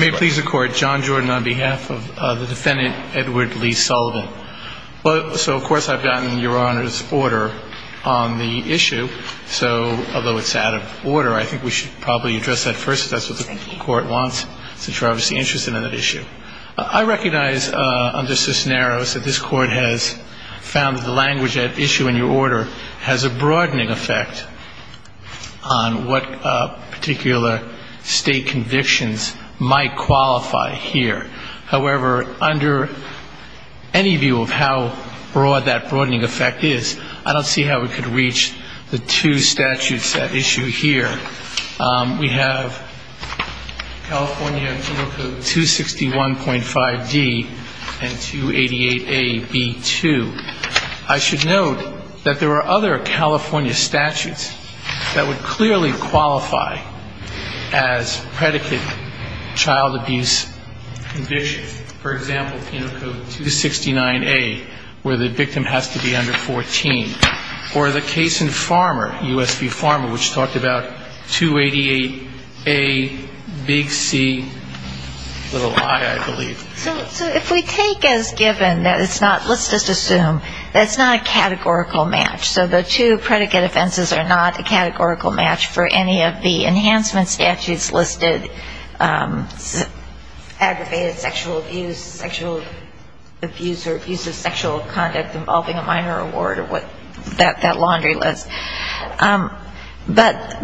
May it please the court, John Jordan on behalf of the defendant Edward Lee Sullivan. So of course I've gotten your Honor's order on the issue, so although it's out of order, I think we should probably address that first if that's what the court wants, since you're obviously interested in that issue. I recognize under Cisneros that this court has found the language at issue in your order has a broadening effect on what particular state convictions might qualify here. However, under any view of how broad that broadening effect is, I don't see how we could reach the two statutes at issue here. We have California Penal Code 261.5d and 288a.b.2. I should note that there are other California statutes that would clearly qualify as predicate child abuse convictions. For example, Penal Code 269a, where the victim has to be under 14. Or the case in Farmer, U.S. v. Farmer, which talked about 288a.b.c.i, I believe. So if we take as given that it's not, let's just assume that it's not a categorical match. So the two predicate offenses are not a categorical match for any of the enhancement statutes listed, aggravated sexual abuse, sexual abuse or abuse of sexual conduct involving a minor award or that laundry list. But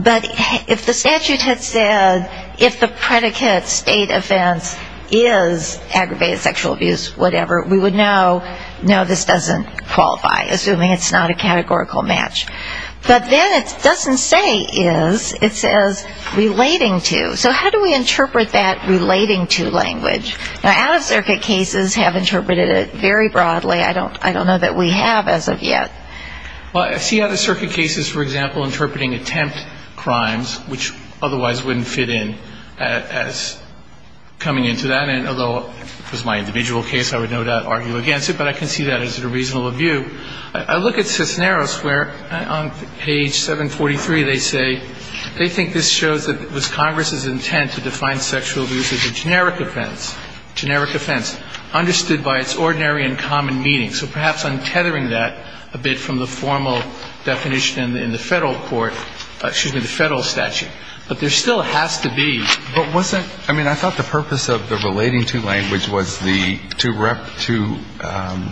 if the statute had said if the predicate state offense is aggravated sexual abuse, whatever, we would know, no, this doesn't qualify, assuming it's not a categorical match. But then it doesn't say is, it says relating to. So how do we interpret that relating to language? Now, out-of-circuit cases have interpreted it very broadly. I don't know that we have as of yet. Well, I see out-of-circuit cases, for example, interpreting attempt crimes, which otherwise wouldn't fit in as coming into that. And although it was my individual case, I would no doubt argue against it. But I can see that as a reasonable view. I look at Cisneros where on page 743 they say they think this shows that it was Congress's intent to define sexual abuse as a generic offense, generic offense understood by its ordinary and common meaning. So perhaps I'm tethering that a bit from the formal definition in the federal court, excuse me, the federal statute. But there still has to be. But wasn't, I mean, I thought the purpose of the relating to language was the, to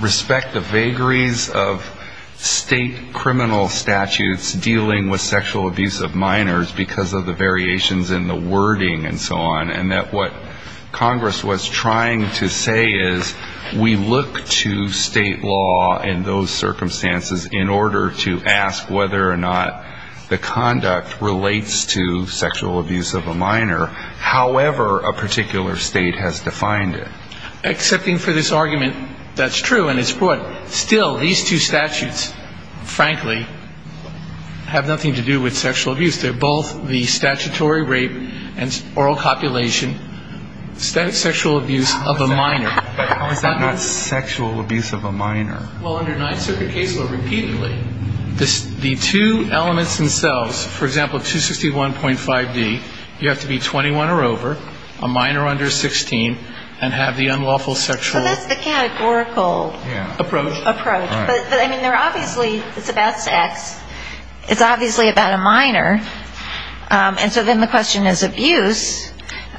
respect the vagaries of state criminal statutes dealing with sexual abuse of minors because of the variations in the wording and so on. And that what Congress was trying to say is we look to state law in those circumstances in order to ask whether or not the conduct relates to sexual abuse of a minor, however a particular state has defined it. Excepting for this argument, that's true and it's broad. Still, these two statutes, frankly, have nothing to do with sexual abuse. They're both the statutory rape and oral copulation, sexual abuse of a minor. How is that not sexual abuse of a minor? Well, under Ninth Circuit case law repeatedly, the two elements themselves, for example, 261.5D, you have to be 21 or over, a minor under 16, and have the unlawful sexual. Approach. Approach. But, I mean, they're obviously, it's about sex, it's obviously about a minor, and so then the question is abuse,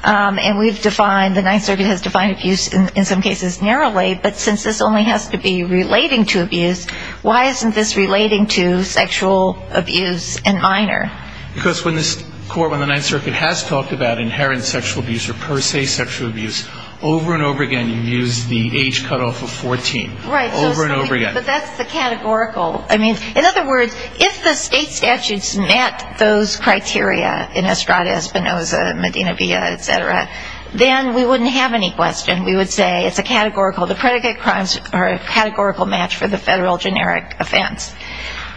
and we've defined, the Ninth Circuit has defined abuse in some cases narrowly, but since this only has to be relating to abuse, why isn't this relating to sexual abuse in minor? Because when this court, when the Ninth Circuit has talked about inherent sexual abuse or per se sexual abuse, over and over again you use the age cutoff of 14. Right. Over and over again. But that's the categorical. I mean, in other words, if the state statutes met those criteria in Estrada-Espinoza, Medina-Villa, et cetera, then we wouldn't have any question. We would say it's a categorical, the predicate crimes are a categorical match for the federal generic offense.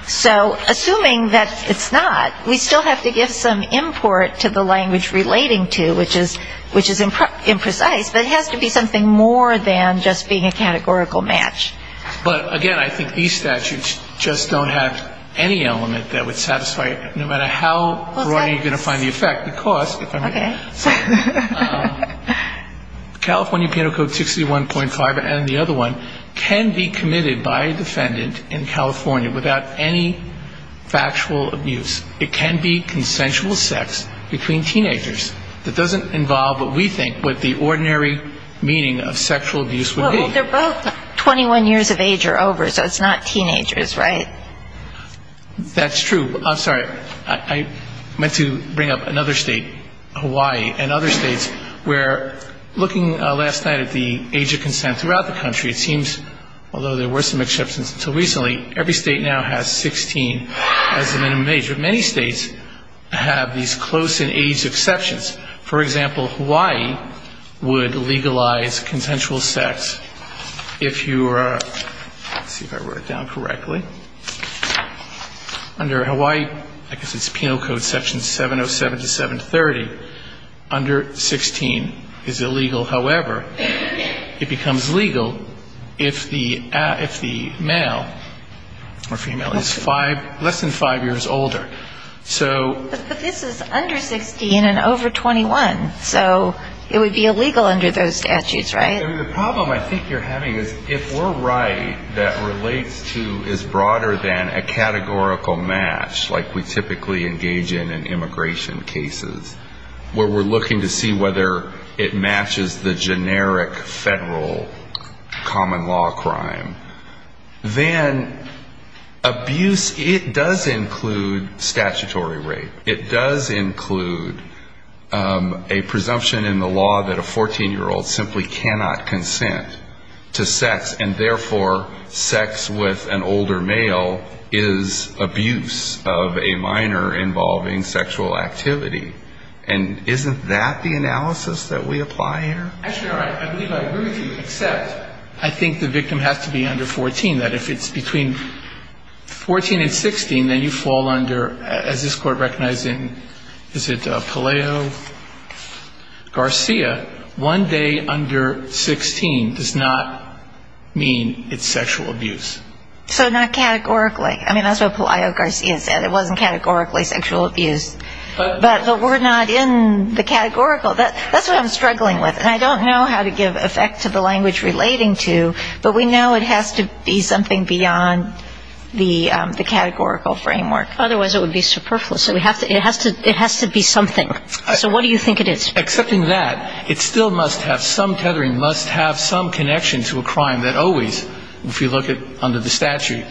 So assuming that it's not, we still have to give some import to the language relating to, which is imprecise, but it has to be something more than just being a categorical match. But, again, I think these statutes just don't have any element that would satisfy, no matter how broadly you're going to find the effect, because California Penal Code 61.5 and the other one can be committed by a defendant in California without any factual abuse. It can be consensual sex between teenagers. It doesn't involve what we think what the ordinary meaning of sexual abuse would be. Well, they're both 21 years of age or over, so it's not teenagers, right? That's true. I'm sorry. I meant to bring up another state, Hawaii, and other states where looking last night at the age of consent throughout the country, it seems, although there were some exceptions until recently, every state now has 16 as the minimum age. But many states have these close-in-age exceptions. For example, Hawaii would legalize consensual sex if you were, let's see if I wrote it down correctly. Under Hawaii, I guess it's Penal Code section 707 to 730, under 16 is illegal. However, it becomes legal if the male or female is less than five years older. So this is under 16 and over 21, so it would be illegal under those statutes, right? The problem I think you're having is if we're right that relates to is broader than a categorical match, like we typically engage in in immigration cases, where we're looking to see whether it matches the generic federal common law crime, then abuse, it does include statutory rape. It does include a presumption in the law that a 14-year-old simply cannot consent to sex, and therefore sex with an older male is abuse of a minor involving sexual activity. And isn't that the analysis that we apply here? Actually, I believe I agree with you, except I think the victim has to be under 14. That if it's between 14 and 16, then you fall under, as this Court recognizes, is it Paleo Garcia, one day under 16 does not mean it's sexual abuse. So not categorically. I mean, that's what Paleo Garcia said. It wasn't categorically sexual abuse. But we're not in the categorical. That's what I'm struggling with. And I don't know how to give effect to the language relating to, but we know it has to be something beyond the categorical framework. Otherwise it would be superfluous. It has to be something. So what do you think it is? Accepting that, it still must have some tethering, must have some connection to a crime that always, if you look under the statute,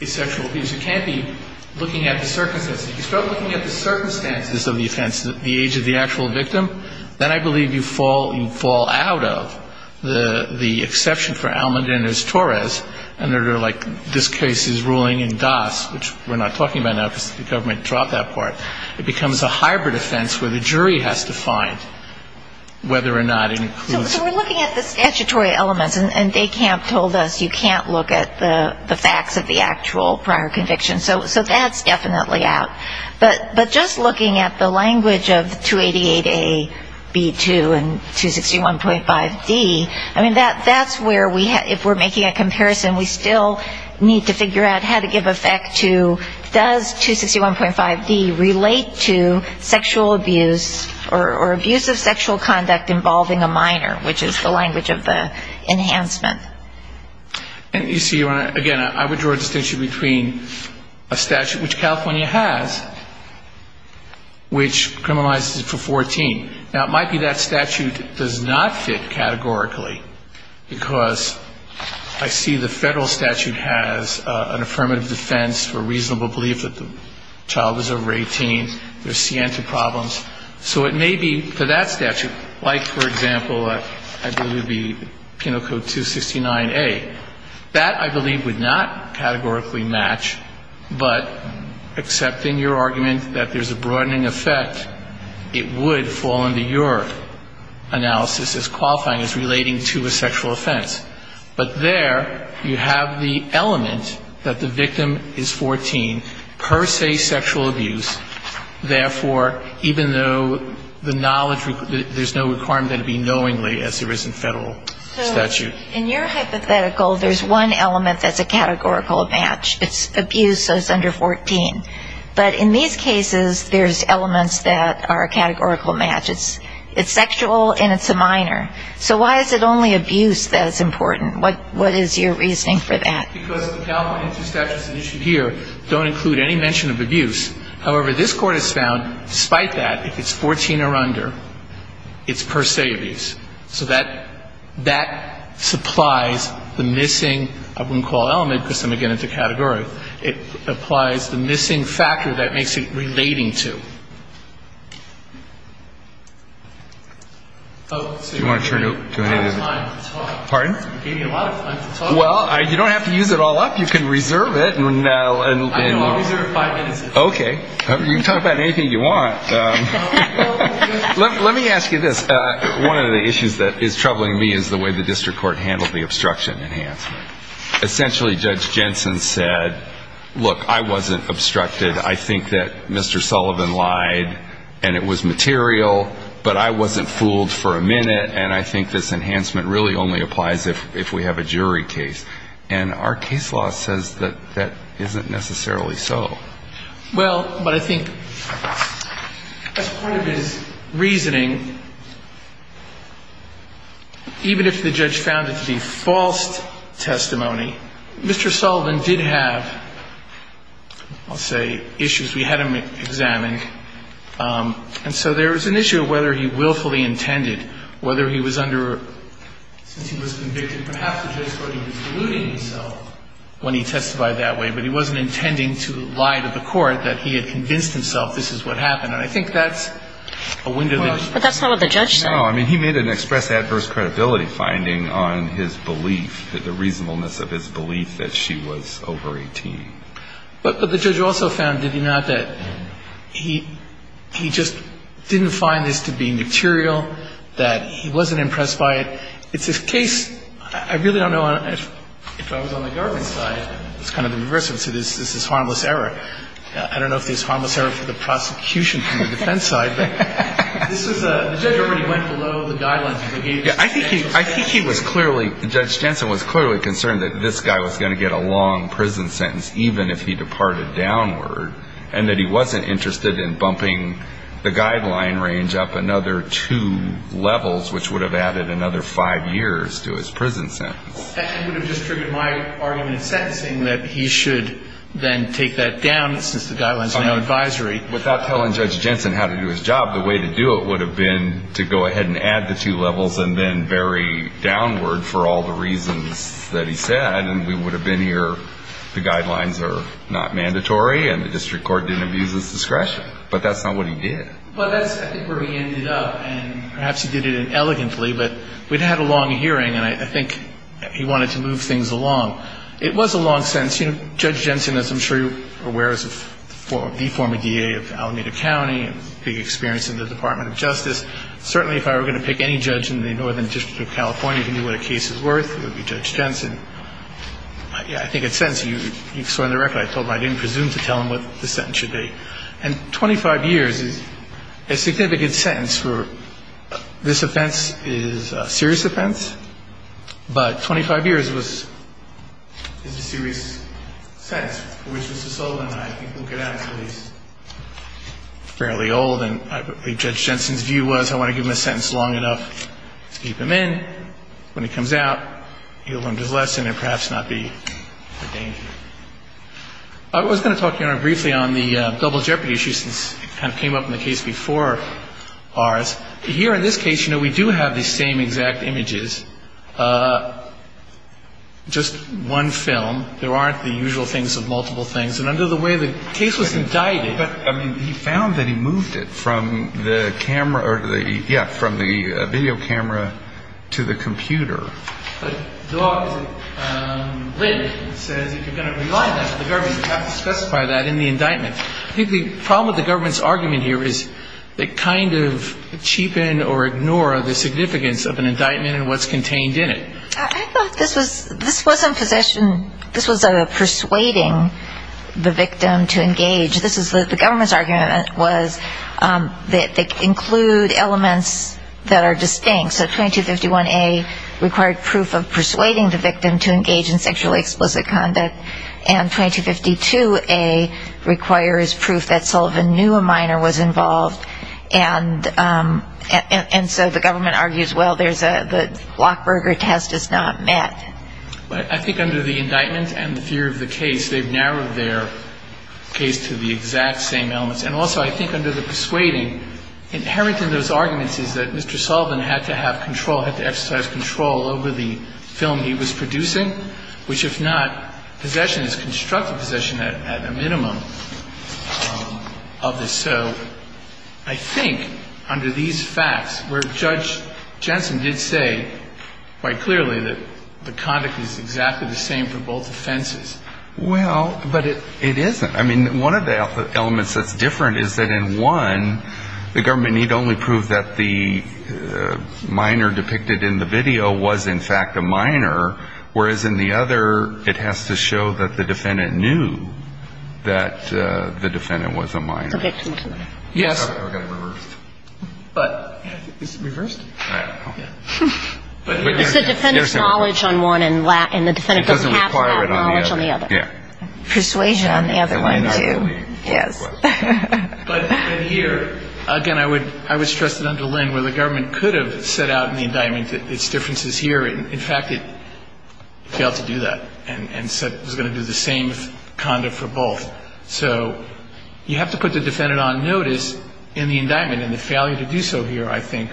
is sexual abuse. You can't be looking at the circumstances. If you start looking at the circumstances of the offense, the age of the actual victim, then I believe you fall out of the exception for Almodinez-Torres under like this case's ruling in DAS, which we're not talking about now because the government dropped that part. It becomes a hybrid offense where the jury has to find whether or not it includes it. So we're looking at the statutory elements, and DECAMP told us you can't look at the facts of the actual prior conviction. So that's definitely out. But just looking at the language of 288A, B2, and 261.5D, I mean, that's where, if we're making a comparison, we still need to figure out how to give effect to, does 261.5D relate to sexual abuse or abuse of sexual conduct involving a minor, which is the language of the enhancement. And you see, again, I would draw a distinction between a statute, which California has, which criminalizes it for 14. Now, it might be that statute does not fit categorically because I see the federal statute has an affirmative defense for reasonable crime, reasonable belief that the child is over 18, there's scientific problems. So it may be for that statute, like, for example, I believe it would be penal code 269A, that I believe would not categorically match, but except in your argument that there's a broadening effect, it would fall under your analysis as qualifying as relating to a sexual offense. But there, you have the element that the victim is 14, per se sexual abuse, therefore, even though the knowledge, there's no requirement that it be knowingly, as there is in federal statute. So in your hypothetical, there's one element that's a categorical match. It's abuse, so it's under 14. But in these cases, there's elements that are a categorical match. It's sexual and it's a minor. So why is it only abuse that's important? What is your reasoning for that? Because the California statute and the statute here don't include any mention of abuse. However, this Court has found, despite that, if it's 14 or under, it's per se abuse. So that supplies the missing, I wouldn't call element, because I'm going to get into category, it applies the missing factor that makes it relating to. Do you want to turn it over? Pardon? Well, you don't have to use it all up. You can reserve it. Okay. You can talk about anything you want. Let me ask you this. One of the issues that is troubling me is the way the district court handled the obstruction enhancement. Essentially, Judge Jensen said, look, I wasn't obstructed. I think that Mr. Sullivan lied, and it was material, but I wasn't fooled for a minute, and I think this enhancement really only applies if we have a jury case. And our case law says that that isn't necessarily so. Well, but I think as part of his reasoning, even if the judge found it to be false testimony, Mr. Sullivan didn't have to use the word false testimony. He did have, I'll say, issues we had him examine. And so there was an issue of whether he willfully intended, whether he was under, since he was convicted, perhaps the judge thought he was deluding himself when he testified that way, but he wasn't intending to lie to the court that he had convinced himself this is what happened. And I think that's a window that he could use. But the judge also found, did he not, that he just didn't find this to be material, that he wasn't impressed by it. It's a case, I really don't know, if I was on the government side, it's kind of the reverse. This is harmless error. I don't know if it's harmless error for the prosecution from the defense side, but this was a, the judge already went below the guidelines. I think he was clearly, Judge Jensen was clearly concerned that this guy was going to get a long prison sentence, even if he departed downward, and that he wasn't interested in bumping the guideline range up another two levels, which would have added another five years to his prison sentence. That would have just triggered my argument in sentencing that he should then take that down, since the guidelines are now advisory. Without telling Judge Jensen how to do his job, the way to do it would have been to go ahead and add the two levels and then vary downward for all the reasons that he said, and we would have been here, the guidelines are not mandatory, and the district court didn't abuse his discretion. But that's not what he did. Well, that's I think where he ended up, and perhaps he did it elegantly, but we'd had a long hearing, and I think he wanted to move things along. It was a long sentence. You know, Judge Jensen, as I'm sure you're aware, is the former D.A. of Alameda County, has big experience in the Department of Justice. Certainly, if I were going to pick any judge in the Northern District of California to do what a case is worth, it would be Judge Jensen. I think in sentencing, you saw in the record, I told him I didn't presume to tell him what the sentence should be. And 25 years is a significant sentence for, this offense is a serious offense, but 25 years was a serious offense. I think Judge Jensen's view was, I want to give him a sentence long enough to keep him in. When he comes out, he'll learn his lesson and perhaps not be a danger. I was going to talk briefly on the double jeopardy issue since it kind of came up in the case before ours. Here in this case, you know, we do have the same exact images. Just one film. There aren't the usual things of multiple things. And under the way the case was indicted... But, I mean, he found that he moved it from the camera or the, yeah, from the video camera to the computer. But the law is a lid that says if you're going to rely on that for the government, you have to specify that in the indictment. I think the problem with the government's argument here is they kind of cheapen or ignore the significance of an indictment and what's going to happen if it's contained in it. I thought this was a persuading the victim to engage. The government's argument was that they include elements that are distinct. So 2251A required proof of persuading the victim to engage in sexually explicit conduct. And 2252A requires proof that Sullivan knew a minor was involved. And so the government argues, well, the Lockberger test is not met. But I think under the indictment and the fear of the case, they've narrowed their case to the exact same elements. And also I think under the persuading, inherent in those arguments is that Mr. Sullivan had to have control, had to exercise control over the film he was producing, which if not possession is constructive possession at a minimum of this. So I think under these facts where Judge Jensen did say quite clearly that the conduct is exactly the same for both offenses. Well, but it isn't. I mean, one of the elements that's different is that in one, the government need only prove that the minor depicted in the video was in fact a minor, whereas in the other, it has to show that the defendant knew that the defendant was a minor. I'm not sure why that's different. But I think it's reversed. It's the defendant's knowledge on one, and the defendant doesn't have that knowledge on the other. It doesn't require it on the other. Persuasion on the other one, too. Yes. But here, again, I would stress that under Lynn where the government could have set out in the indictment its differences here, in fact, it failed to do that and said it was going to do the same conduct for both. So you have to put the defendant on notice in the indictment, and it failed to do so here, I think.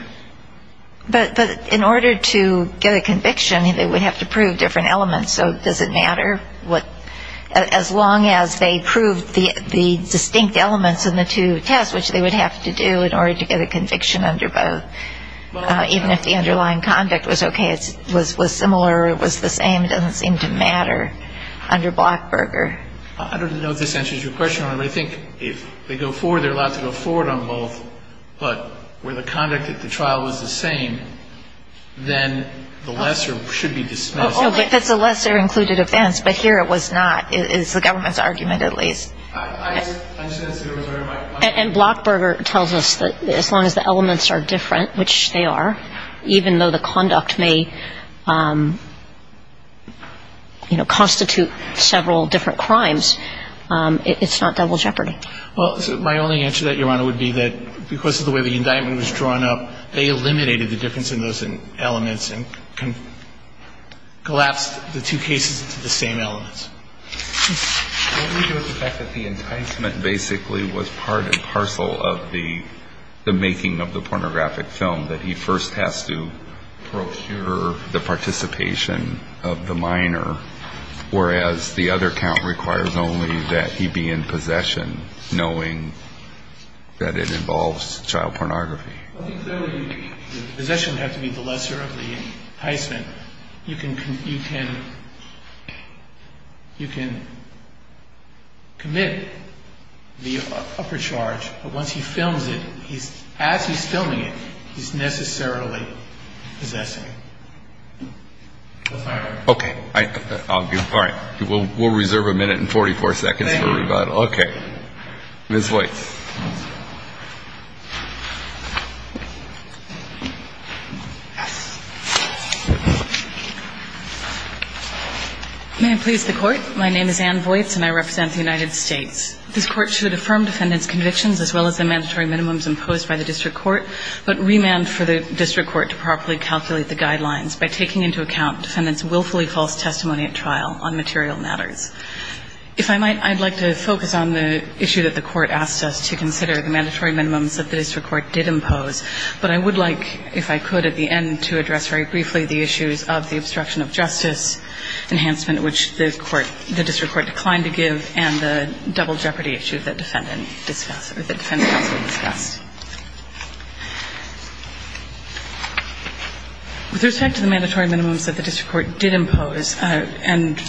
But in order to get a conviction, they would have to prove different elements. So does it matter? As long as they proved the distinct elements in the two tests, which they would have to do in order to get a conviction under both, even if the underlying conduct was okay, it was similar, it was the same, it doesn't seem to matter under Blackburger. I don't know if this answers your question, but I think if they go forward, they're allowed to go forward on both. But where the conduct at the trial was the same, then the lesser should be dismissed. Only if it's a lesser-included offense, but here it was not. It's the government's argument, at least. And Blackburger tells us that as long as the elements are different, which they are, even though the conduct may, you know, constitute several different crimes, it's not double jeopardy. Well, my only answer to that, Your Honor, would be that because of the way the indictment was drawn up, they eliminated the difference in those elements and collapsed the two cases into the same elements. The indictment basically was part and parcel of the making of the pornographic film, that he first has to procure the participation of the minor, whereas the other count requires only that he be in possession, knowing that it involves child pornography. Possession would have to be the lesser of the enticement. You can commit the upper charge, but once he films it, as he's filming it, he's necessarily possessing it. Okay. We'll reserve a minute and 44 seconds for rebuttal. Thank you. Ms. Voights. May it please the Court, my name is Anne Voights and I represent the United States. This Court should affirm defendant's convictions as well as the mandatory minimums imposed by the district court, but remand for the district court to properly calculate the guidelines by taking into account defendant's willfully false testimony at trial on material matters. If I might, I'd like to focus on the issue that the Court asked us to consider, the mandatory minimums that the district court did impose. But I would like, if I could, at the end, to address very briefly the issues of the obstruction of justice enhancement, which the district court declined to give, and the double jeopardy issue that defense counsel discussed. With respect to the mandatory minimums that the district court did impose, and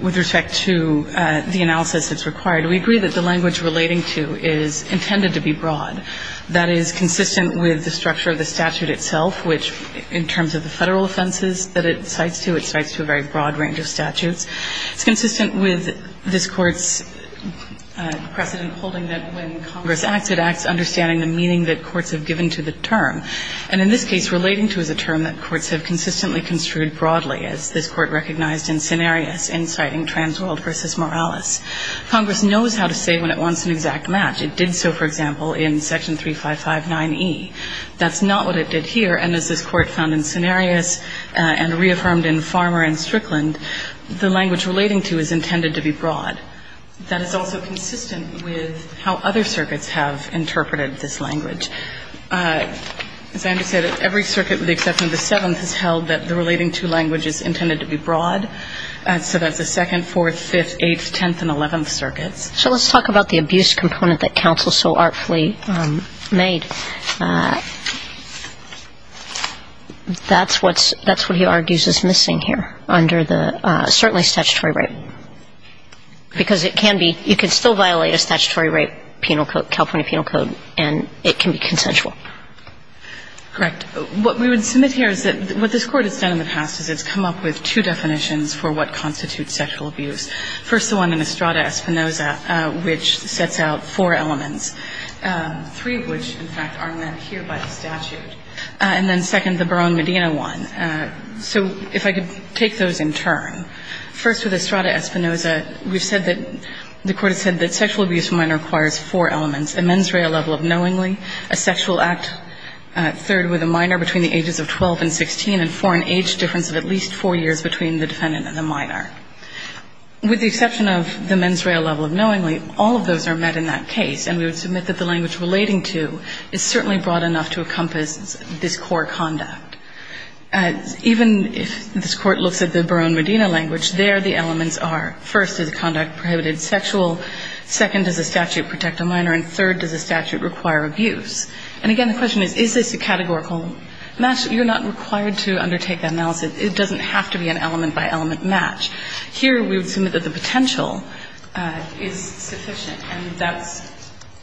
with respect to the analysis that's required, we agree that the language relating to is intended to be broad. That is consistent with the structure of the statute itself, which, in terms of the federal offenses that it cites to, it cites to a very broad range of statutes. It's consistent with this Court's precedent holding that when Congress acts, it acts under the jurisdiction of the district court. It's consistent with understanding the meaning that courts have given to the term. And in this case, relating to is a term that courts have consistently construed broadly, as this Court recognized in Cenarius in citing Transworld v. Morales. Congress knows how to say when it wants an exact match. It did so, for example, in Section 3559e. That's not what it did here. And as this Court found in Cenarius and reaffirmed in Farmer and Strickland, the language relating to is intended to be broad. That is also consistent with how other circuits have interpreted this language. As I understand it, every circuit with the exception of the 7th has held that the relating to language is intended to be broad. So that's the 2nd, 4th, 5th, 8th, 10th, and 11th circuits. So let's talk about the abuse component that counsel so artfully made. That's what's – that's what he argues is missing here under the – certainly statutory rape. Because it can be – you can still violate a statutory rape penal code, California Penal Code, and it can be consensual. Correct. What we would submit here is that what this Court has done in the past is it's come up with two definitions for what constitutes sexual abuse. First, the one in Estrada-Espinoza, which sets out four elements, three of which, in fact, are met here by the statute. And then second, the Barone-Medina one. So if I could take those in turn. First, with Estrada-Espinoza, we've said that – the Court has said that sexual abuse for minor requires four elements, a mens rea level of knowingly, a sexual act, third, with a minor between the ages of 12 and 16, and four, an age difference of at least four years between the defendant and the minor. With the exception of the mens rea level of knowingly, all of those are met in that case. And we would submit that the language relating to is certainly broad enough to encompass this core conduct. Even if this Court looks at the Barone-Medina language, there the elements are first, is the conduct prohibited sexual? Second, does the statute protect a minor? And third, does the statute require abuse? And again, the question is, is this a categorical match? You're not required to undertake that analysis. It doesn't have to be an element-by-element match. Here, we would submit that the potential is sufficient, and that's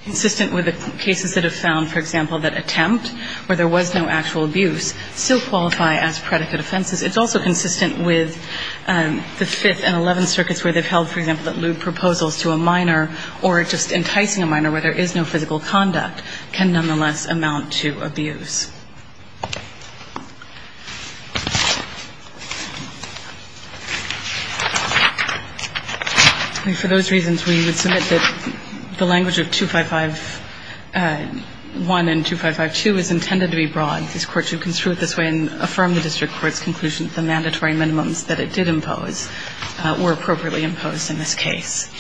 consistent with the cases that have found, for example, that attempt, where there was no actual abuse, still qualify as predicate offenses. It's also consistent with the 5th and 11th circuits where they've held, for example, that lewd proposals to a minor, or just enticing a minor where there is no physical conduct, can nonetheless amount to abuse. And for those reasons, we would submit that the language of 255-1 and 255-2 is intended to be broad. This Court should construe it this way and affirm the district court's conclusion that the mandatory minimums that it did impose were appropriately imposed in this case.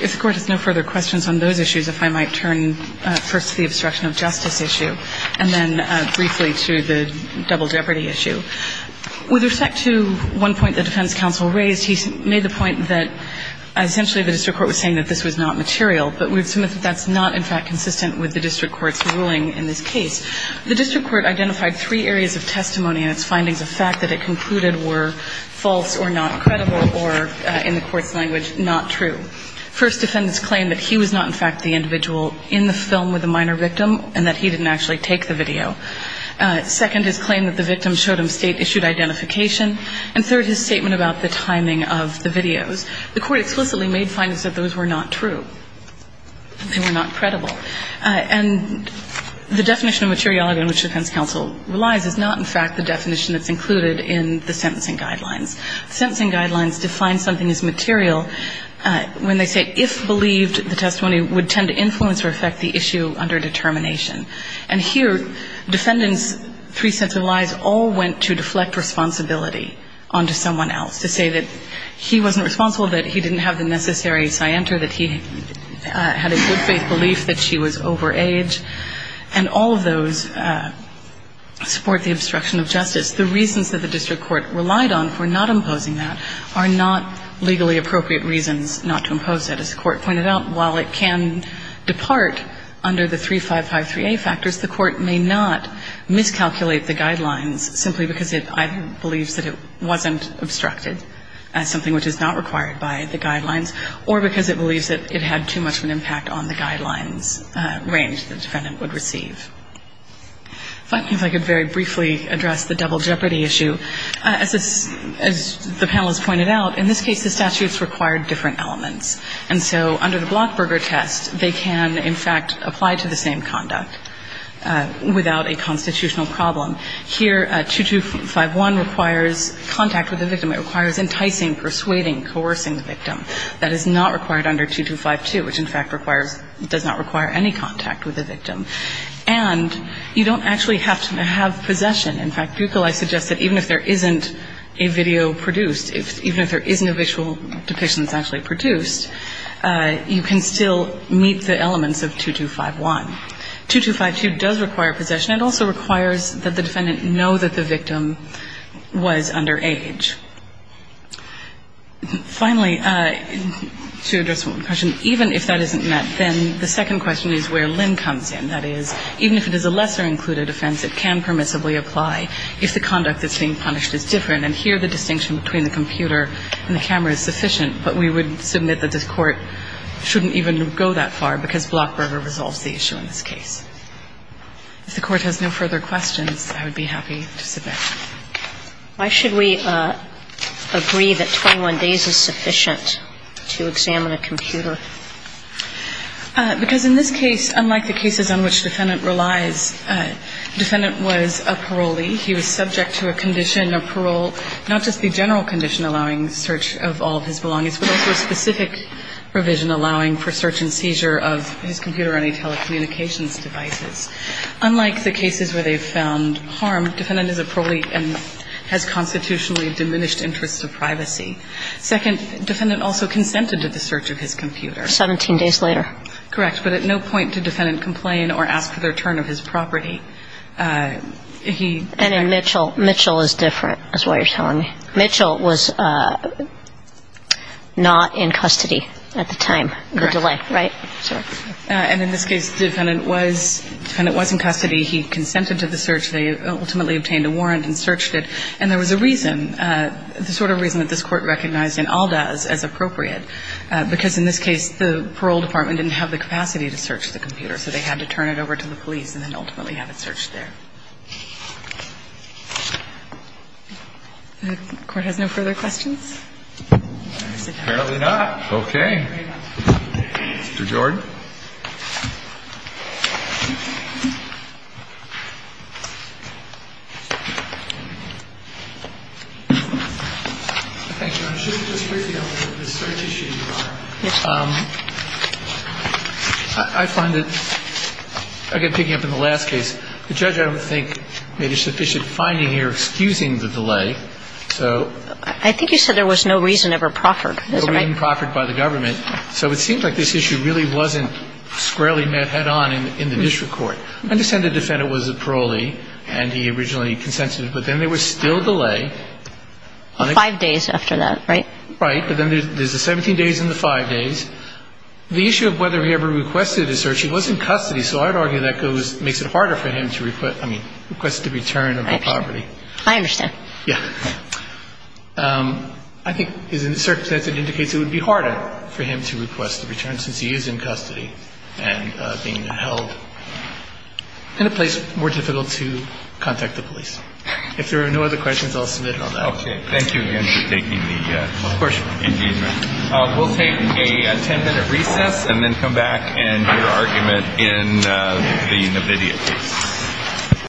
If the Court has no further questions on those issues, if I might turn first to the obstruction of justice issue, and then briefly to the double jeopardy issue. With respect to one point the defense counsel raised, he made the point that essentially the district court was saying that this was not material, but we would submit that that's not, in fact, consistent with the district court's ruling in this case. The district court identified three areas of testimony in its findings of fact that it concluded were false or not credible or, in the court's language, not true. First, defendants claim that he was not, in fact, the individual in the film with the minor victim and that he didn't actually take the video. Second, his claim that the victim showed him state-issued identification. And third, his statement about the timing of the videos. The court explicitly made findings that those were not true. They were not credible. And the definition of materiality in which the defense counsel relies is not, in fact, the definition that's included in the sentencing guidelines. Sentencing guidelines define something as material when they say if believed, the testimony would tend to influence or affect the issue under determination. And here, defendants' three sets of lies all went to deflect responsibility onto someone else, to say that he wasn't responsible, that he didn't have the necessary scienter, that he had a good faith belief that she was overage. And all of those support the obstruction of justice. The reasons that the district court relied on for not imposing that are not legally appropriate reasons not to impose it. As the court pointed out, while it can depart under the 3553A factors, the court may not miscalculate the guidelines simply because it either believes that it wasn't obstructed as something which is not required by the guidelines or because it believes that it had too much of an impact on the guidelines range the defendant would receive. If I could very briefly address the double jeopardy issue. As the panelists pointed out, in this case, the statutes required different elements. And so under the Blockberger test, they can, in fact, apply to the same conduct without a constitutional problem. Here, 2251 requires contact with the victim. It requires enticing, persuading, coercing the victim. That is not required under 2252, which, in fact, requires – does not require any contact with the victim. And you don't actually have to have possession. In fact, Buckeley suggests that even if there isn't a video produced, even if there isn't a visual depiction that's actually produced, you can still meet the elements of 2251. 2252 does require possession. It also requires that the defendant know that the victim was underage. Finally, to address one question, even if that isn't met, then the second question is where Lynn comes in. And that is, even if it is a lesser included offense, it can permissibly apply if the conduct that's being punished is different. And here, the distinction between the computer and the camera is sufficient, but we would submit that this Court shouldn't even go that far because Blockberger resolves the issue in this case. If the Court has no further questions, I would be happy to submit. Sotomayor Why should we agree that 21 days is sufficient to examine a computer? Because in this case, unlike the cases on which defendant relies, defendant was a parolee. He was subject to a condition of parole, not just the general condition allowing search of all of his belongings, but also a specific provision allowing for search and seizure of his computer or any telecommunications devices. Unlike the cases where they've found harm, defendant is a parolee and has constitutionally diminished interest to privacy. Second, defendant also consented to the search of his computer. 17 days later. Correct. But at no point did defendant complain or ask for the return of his property. And in Mitchell, Mitchell is different, is what you're telling me. Mitchell was not in custody at the time, the delay, right? Correct. And in this case, defendant was in custody. He consented to the search. They ultimately obtained a warrant and searched it. And there was a reason, the sort of reason that this Court recognized in Aldaz as appropriate, because in this case, the parole department didn't have the capacity to search the computer, so they had to turn it over to the police and then ultimately have it searched there. The Court has no further questions? Apparently not. Okay. Mr. Jordan. I find that, again, picking up on the last case, the judge I don't think made a sufficient finding here excusing the delay. So. I think you said there was no reason ever proffered. There was no reason proffered by the government. So it seems like this issue really wasn't squarely met head on in the district court. I understand the defendant was a parolee and he originally consented, but then there was still delay. Five days after that, right? Right. But then there's the 17 days and the five days. The issue of whether he ever requested a search, he was in custody, so I would argue that makes it harder for him to request the return of the property. I understand. Yeah. I think his circumstance indicates it would be harder for him to request the return since he is in custody and being held in a place more difficult to contact the police. If there are no other questions, I'll submit it on that. Okay. Thank you again for taking the engagement. Of course. We'll take a ten-minute recess and then come back and hear argument in the NVIDIA case.